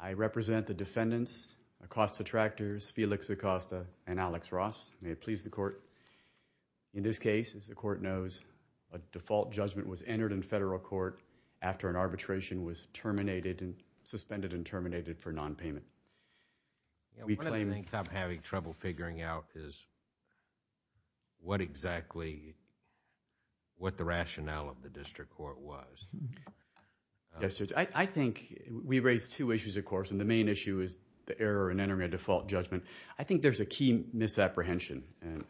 I represent the defendants, Acosta Tractors, Felix Acosta and Alex Ross. May it please the Court, in this case, as the Court knows, a default judgment was entered in federal court after an arbitration was suspended and terminated for nonpayment. We claim... One of the things I'm having trouble figuring out is what exactly... what the rationale of the district court was. I think we raised two issues, of course, and the main issue is the error in entering a default judgment. I think there's a key misapprehension, and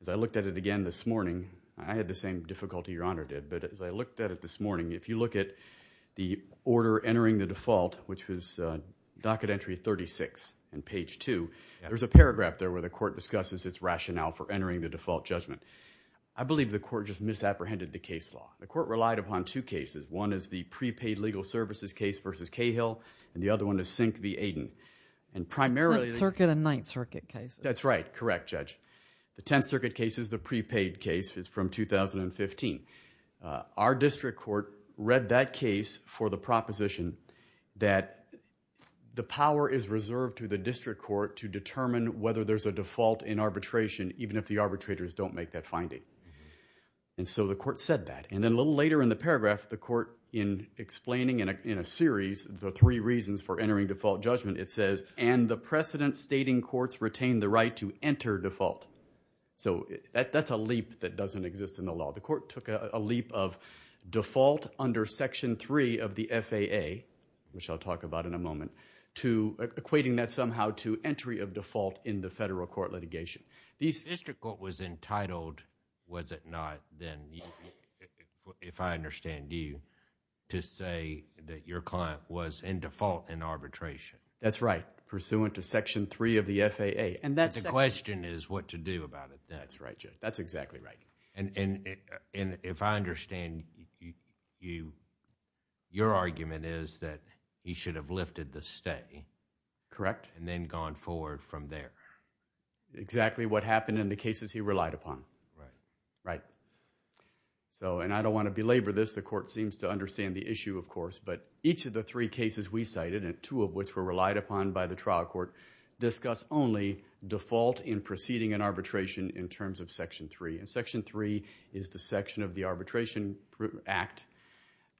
as I looked at it again this morning, I had the same difficulty Your Honor did, but as I looked at it this morning, if you look at the order entering the default, which was docket entry 36 and page 2, there's a paragraph there where the Court discusses its rationale for entering the default judgment. I believe the Court just misapprehended the case law. The Court relied upon two cases. One is the prepaid legal services case versus Cahill, and the other one is Sink v. Aiden. And primarily... Tenth Circuit and Ninth Circuit cases. That's right. Correct, Judge. The Tenth Circuit case is the prepaid case from 2015. Our district court read that case for the proposition that the power is reserved to the district court to determine whether there's a default in arbitration, even if the arbitrators don't make that finding. And so the Court said that. And then a little later in the paragraph, the Court, in explaining in a series the three reasons for entering default judgment, it says, and the precedent stating courts retain the right to enter default. So that's a leap that doesn't exist in the law. The Court took a leap of default under Section 3 of the FAA, which I'll talk about in a moment, to equating that somehow to entry of default in the federal court litigation. The district court was entitled, was it not, then, if I understand you, to say that your client was in default in arbitration. That's right. Pursuant to Section 3 of the FAA. And that's... The question is what to do about it. That's right, Judge. That's exactly right. And if I understand you, your argument is that he should have lifted the stay, correct? And then gone forward from there. Exactly what happened in the cases he relied upon. Right. Right. So, and I don't want to belabor this, the Court seems to understand the issue, of course, but each of the three cases we cited, and two of which were relied upon by the trial court, discuss only default in proceeding in arbitration in terms of Section 3. And Section 3 is the section of the Arbitration Act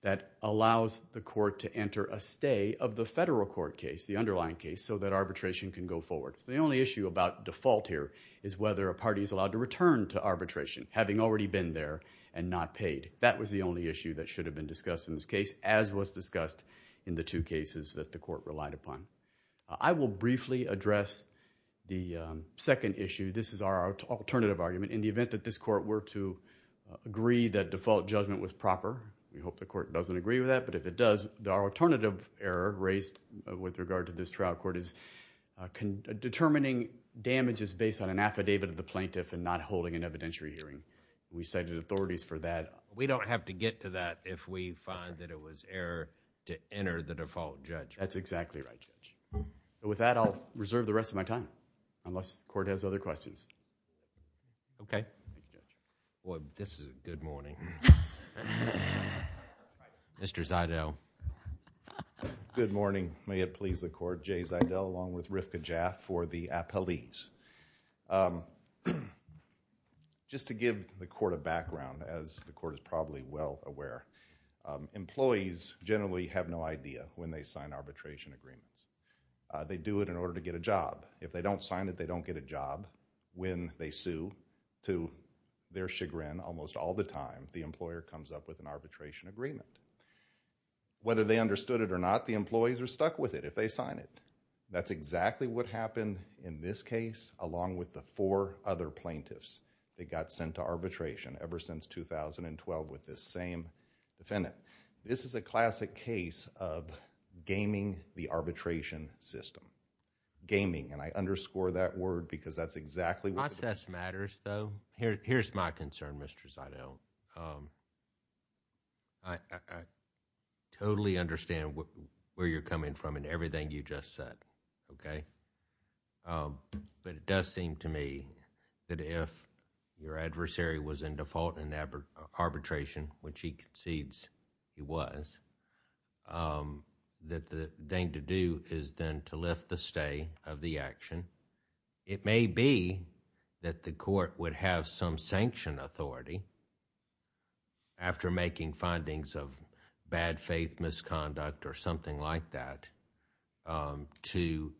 that allows the court to enter a stay of the federal court case, the underlying case, so that arbitration can go forward. The only issue about default here is whether a party is allowed to return to arbitration, having already been there and not paid. That was the only issue that should have been discussed in this case, as was discussed in the two cases that the court relied upon. I will briefly address the second issue. This is our alternative argument. In the event that this court were to agree that default judgment was proper, we hope the court doesn't agree with that, but if it does, our alternative error raised with regard to this trial court is determining damages based on an affidavit of the plaintiff and not holding an evidentiary hearing. We cited authorities for that. We don't have to get to that if we find that it was error to enter the default judgment. That's exactly right, Judge. With that, I'll reserve the rest of my time, unless the court has other questions. Okay. Well, this is a good morning. Mr. Zidell. Good morning. May it please the court, Jay Zidell along with Rifka Jaff for the appellees. Just to give the court a background, as the court is probably well aware, employees generally have no idea when they sign arbitration agreements. They do it in order to get a job. If they don't sign it, they don't get a job. When they sue, to their chagrin almost all the time, the employer comes up with an arbitration agreement. Whether they understood it or not, the employees are stuck with it if they sign it. That's exactly what happened in this case along with the four other plaintiffs that got sent to arbitration ever since 2012 with this same defendant. This is a classic case of gaming the arbitration system. Gaming, and I underscore that word because that's exactly what the court... Process matters, though. Here's my concern, Mr. Zidell. I totally understand where you're coming from and everything you just said, but it does seem to me that the court would have some sanction authority after making findings of bad faith misconduct or something like that to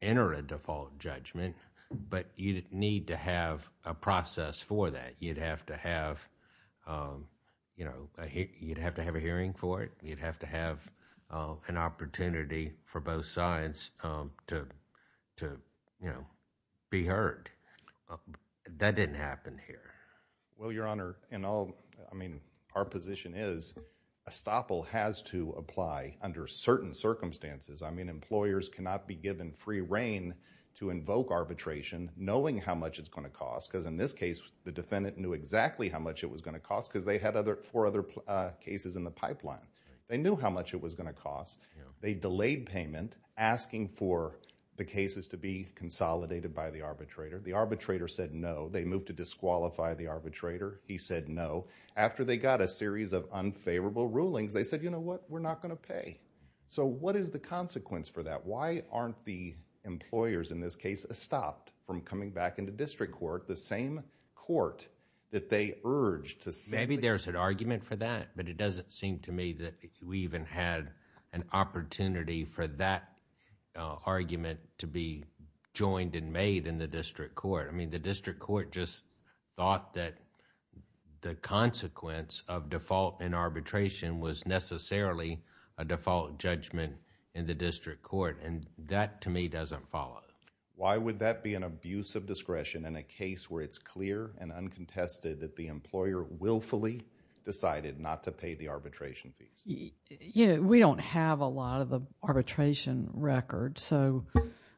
enter a default judgment, but you'd need to have a process for that. You'd have to have a hearing for it. You'd have to have an opportunity for both sides to be heard. That didn't happen here. Well, Your Honor, in all... I mean, our position is a stopple has to apply under certain circumstances. I mean, employers cannot be given free reign to invoke arbitration knowing how much it's going to cost. They had four other cases in the pipeline. They knew how much it was going to cost. They delayed payment asking for the cases to be consolidated by the arbitrator. The arbitrator said no. They moved to disqualify the arbitrator. He said no. After they got a series of unfavorable rulings, they said, you know what? We're not going to pay. So what is the consequence for that? Why aren't the employers in this case stopped from coming back into district court, the same court that they urged to... Maybe there's an argument for that, but it doesn't seem to me that we even had an opportunity for that argument to be joined and made in the district court. The district court just thought that the consequence of default in arbitration was necessarily a default judgment in the district court, and that to me doesn't follow. Why would that be an abuse of discretion in a case where it's clear and uncontested that the employer willfully decided not to pay the arbitration fee? We don't have a lot of the arbitration record, so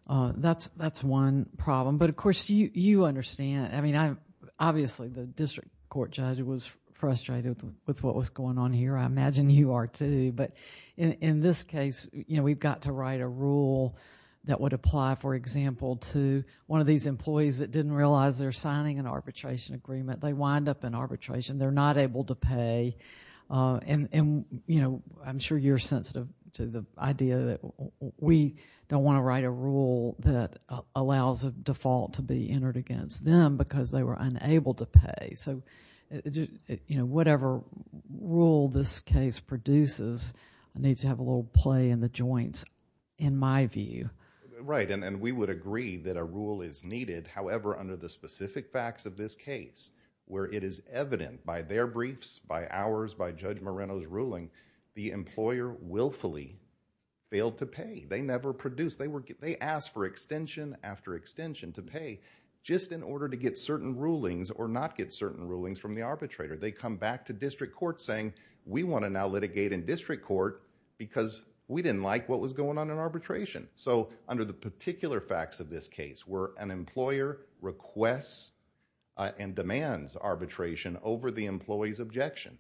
that's one problem. But of course, you understand, I mean, obviously the district court judge was frustrated with what was going on here. I imagine you are too, but in this case, we've got to write a rule that would apply for example to one of these employees that didn't realize they're signing an arbitration agreement. They wind up in arbitration. They're not able to pay, and I'm sure you're sensitive to the idea that we don't want to write a rule that allows a default to be entered against them because they were unable to pay. So whatever rule this case produces needs to have a little play in the joints, in my view. Right, and we would agree that a rule is needed. However, under the specific facts of this case, where it is evident by their briefs, by ours, by Judge Moreno's ruling, the employer willfully failed to pay. They never produced. They asked for extension after extension to pay just in order to get certain rulings or not get certain rulings from the arbitrator. They come back to district court saying, we want to now litigate in district court because we didn't like what was going on in arbitration. Under the particular facts of this case, where an employer requests and demands arbitration over the employee's objection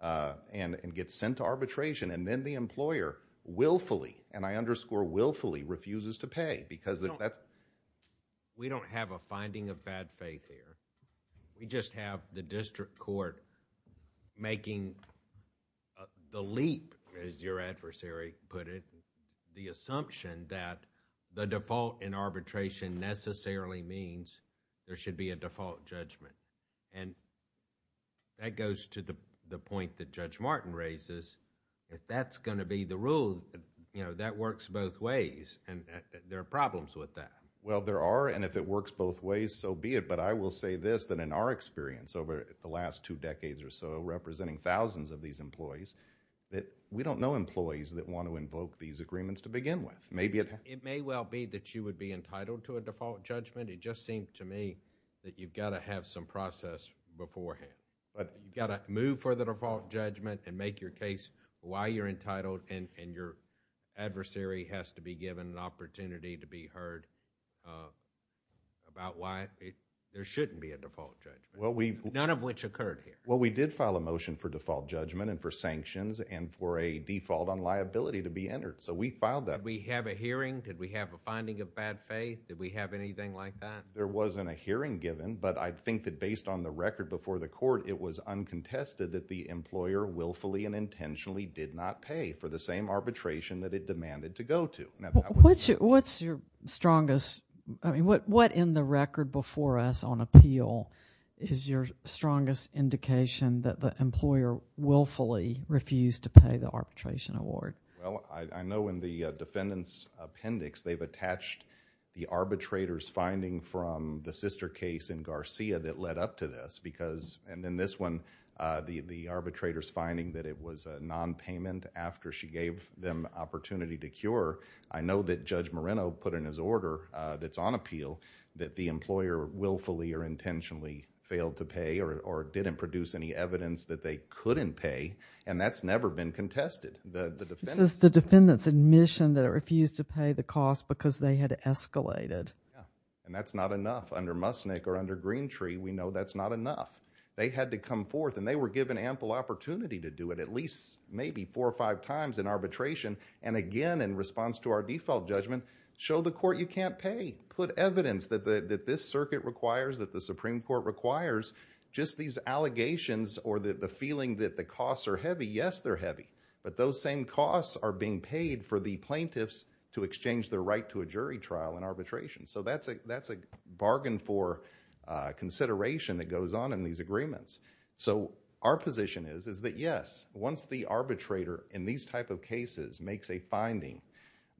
and gets sent to arbitration, and then the employer willfully, and I underscore willfully, refuses to pay because that's... We don't have a finding of bad faith here. We just have the district court making the leap, as your adversary put it, the assumption that the default in arbitration necessarily means there should be a default judgment. That goes to the point that Judge Martin raises, if that's going to be the rule, that works both ways, and there are problems with that. Well, there are, and if it works both ways, so be it. I will say this, that in our experience over the last two decades or so, representing thousands of these employees, that we don't know employees that want to invoke these agreements to begin with. Maybe... It may well be that you would be entitled to a default judgment. It just seems to me that you've got to have some process beforehand. You've got to move for the default judgment and make your case why you're entitled, and your adversary has to be given an opportunity to be heard about why there shouldn't be a default judgment, none of which occurred here. Well, we did file a motion for default judgment and for sanctions and for a default on liability to be entered. So we filed that. Did we have a hearing? Did we have a finding of bad faith? Did we have anything like that? There wasn't a hearing given, but I think that based on the record before the court, it was uncontested that the employer willfully and intentionally did not pay for the same arbitration that it demanded to go to. What's your strongest... I mean, what in the record before us on appeal is your strongest indication that the employer willfully refused to pay the arbitration award? Well, I know in the defendant's appendix, they've attached the arbitrator's finding from the sister case in Garcia that led up to this because... and in this one, the arbitrator's finding that it was a nonpayment after she gave them opportunity to cure. I know that Judge Moreno put in his order that's on appeal that the employer willfully or intentionally failed to pay or didn't produce any evidence that they couldn't pay, and that's never been contested. It says the defendant's admission that it refused to pay the cost because they had escalated. Yeah, and that's not enough. Under Musnick or under Greentree, we know that's not enough. They had to come forth, and they were given ample opportunity to do it at least maybe four or five times in arbitration, and again, in response to our default judgment, show the court you can't pay. Put evidence that this circuit requires, that the Supreme Court requires. Just these allegations or the feeling that the costs are heavy, yes, they're heavy, but those same costs are being paid for the plaintiffs to exchange their right to a jury trial in arbitration, so that's a bargain for consideration that goes on in these agreements. Our position is that yes, once the arbitrator in these type of cases makes a finding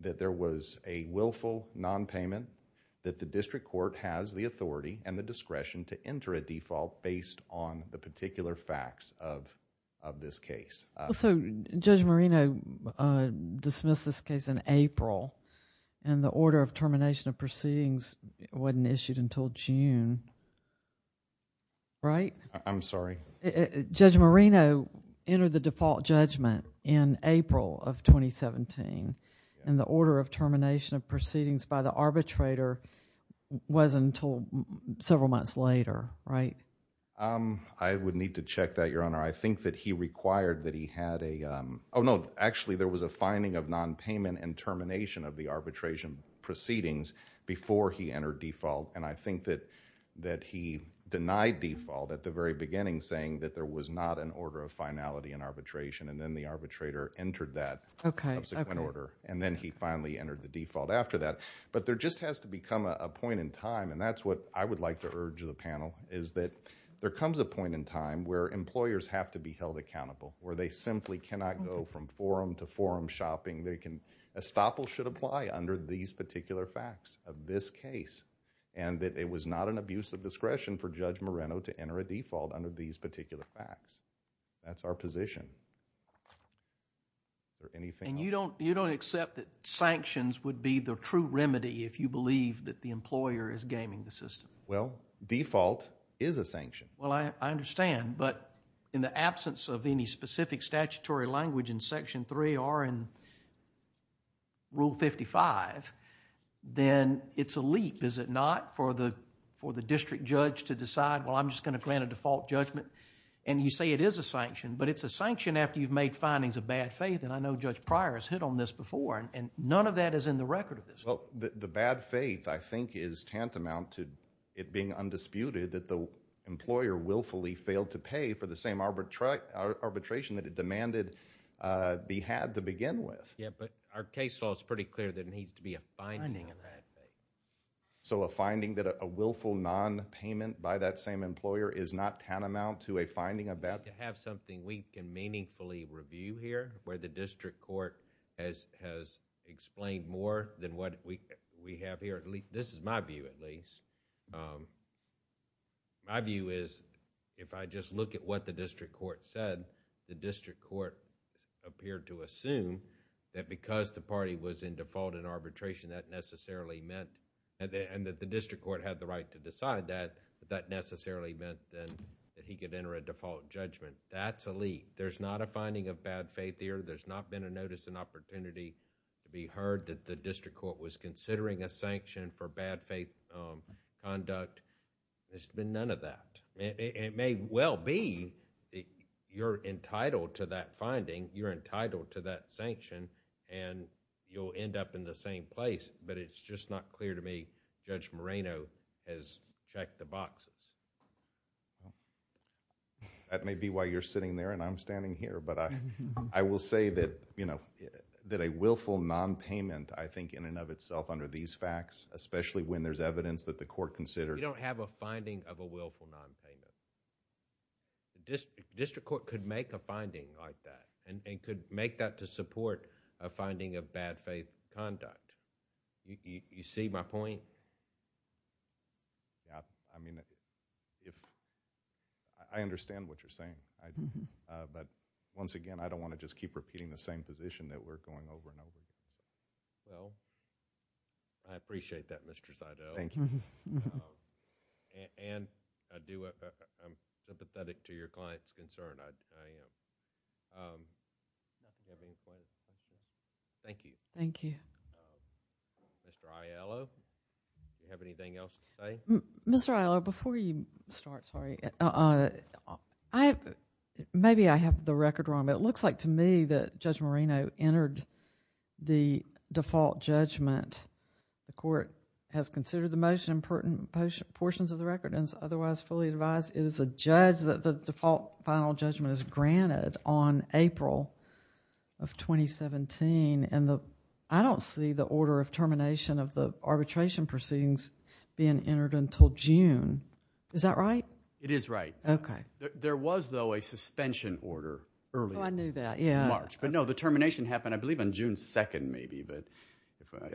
that there was a willful nonpayment, that the district court has the authority and the discretion to enter a default based on the particular facts of this case. Judge Marino dismissed this case in April, and the order of termination of proceedings wasn't issued until June, right? I'm sorry? Judge Marino entered the default judgment in April of 2017, and the order of termination of proceedings by the arbitrator wasn't until several months later, right? I would need to check that, Your Honor. I think that he required that he had a... oh, no, actually there was a finding of nonpayment and termination of the arbitration proceedings before he entered default, and I think that he denied default at the very beginning, saying that there was not an order of finality in arbitration, and then the arbitrator entered that subsequent order, and then he finally entered the default after that. There just has to become a point in time, and that's what I would like to urge the panel, is that there comes a point in time where employers have to be held accountable, where they simply cannot go from forum to forum shopping. They can... estoppel should apply under these particular facts of this case, and that it was not an abuse of discretion for Judge Marino to enter a default under these particular facts. That's our position. Is there anything else? You don't accept that sanctions would be the true remedy if you believe that the employer is gaming the system? Well, default is a sanction. Well, I understand, but in the absence of any specific statutory language in Section 3 or in Rule 55, then it's a leap, is it not, for the district judge to decide, well, I'm just going to grant a default judgment, and you say it is a sanction, but it's a sanction after you've made findings of bad faith, and I know Judge Pryor has hit on this before, and none of that is in the record of this. Well, the bad faith, I think, is tantamount to it being undisputed that the employer willfully failed to pay for the same arbitration that it demanded be had to begin with. Yeah, but our case law is pretty clear there needs to be a finding of bad faith. So a finding that a willful nonpayment by that same employer is not tantamount to a finding of bad faith? To have something we can meaningfully review here, where the district court has explained more than what we have here, this is my view, at least. My view is if I just look at what the district court said, the district court appeared to assume that because the party was in default in arbitration that necessarily meant... and that the district court had the right to decide that, that necessarily meant then that he could enter a default judgment. That's a leap. There's not a finding of bad faith here. There's not been a notice and opportunity to be heard that the district court was considering a sanction for bad faith conduct. There's been none of that. It may well be you're entitled to that finding, you're entitled to that sanction, and you'll end up in the same place, but it's just not clear to me Judge Moreno has checked the boxes. That may be why you're sitting there and I'm standing here, but I will say that a willful nonpayment, I think in and of itself under these facts, especially when there's evidence that the court considered... You don't have a finding of a willful nonpayment. District court could make a finding like that and could make that to support a finding of bad faith conduct. You see my point? I understand what you're saying, but once again, I don't want to just keep repeating the same position that we're going over and over again. I appreciate that, Mr. Seidel, and I'm sympathetic to your client's concern. Thank you. Thank you. Mr. Aiello? Do you have anything else to say? Mr. Aiello, before you start, sorry. Maybe I have the record wrong, but it looks like to me that Judge Moreno entered the default judgment. The court has considered the most important portions of the record and is otherwise fully advised it is a judge that the default final judgment is granted on April of 2017, and I don't see the order of termination of the arbitration proceedings being entered until June. Is that right? It is right. Okay. There was though a suspension order earlier. Oh, I knew that, yeah. In March, but no, the termination happened, I believe, on June 2nd maybe, but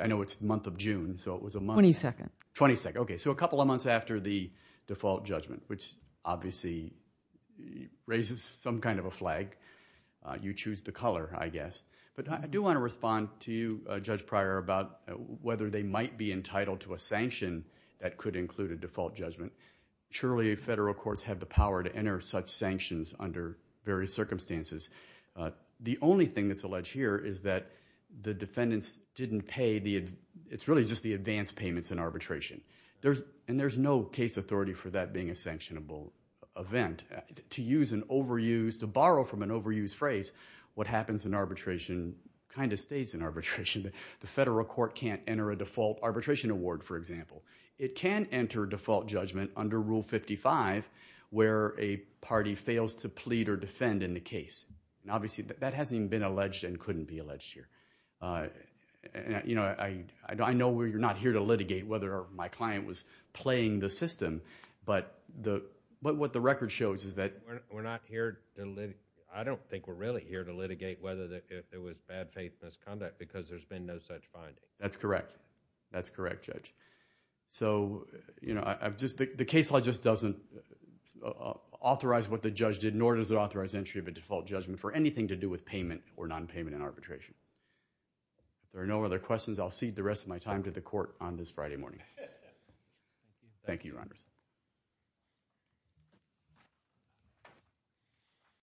I know it's the month of June, so it was a month... Twenty-second. Twenty-second. Okay, so a couple of months after the default judgment, which obviously raises some kind of a flag. You choose the color, I guess, but I do want to respond to you, Judge Pryor, about whether they might be entitled to a sanction that could include a default judgment. Surely federal courts have the power to enter such sanctions under various circumstances. The only thing that's alleged here is that the defendants didn't pay... It's really just the advance payments in arbitration, and there's no case authority for that being a sanctionable event. To use an overused... to borrow from an overused phrase, what happens in arbitration? The federal court can't enter a default arbitration award, for example. It can enter default judgment under Rule 55, where a party fails to plead or defend in the case, and obviously that hasn't even been alleged and couldn't be alleged here. I know you're not here to litigate whether my client was playing the system, but what the record shows is that... We're not here to... I don't think we're really here to litigate whether there was bad faith misconduct, because there's been no such finding. That's correct. That's correct, Judge. The case law just doesn't authorize what the judge did, nor does it authorize entry of a default judgment for anything to do with payment or non-payment in arbitration. If there are no other questions, I'll cede the rest of my time to the court on this Friday morning. Thank you, Your Honor.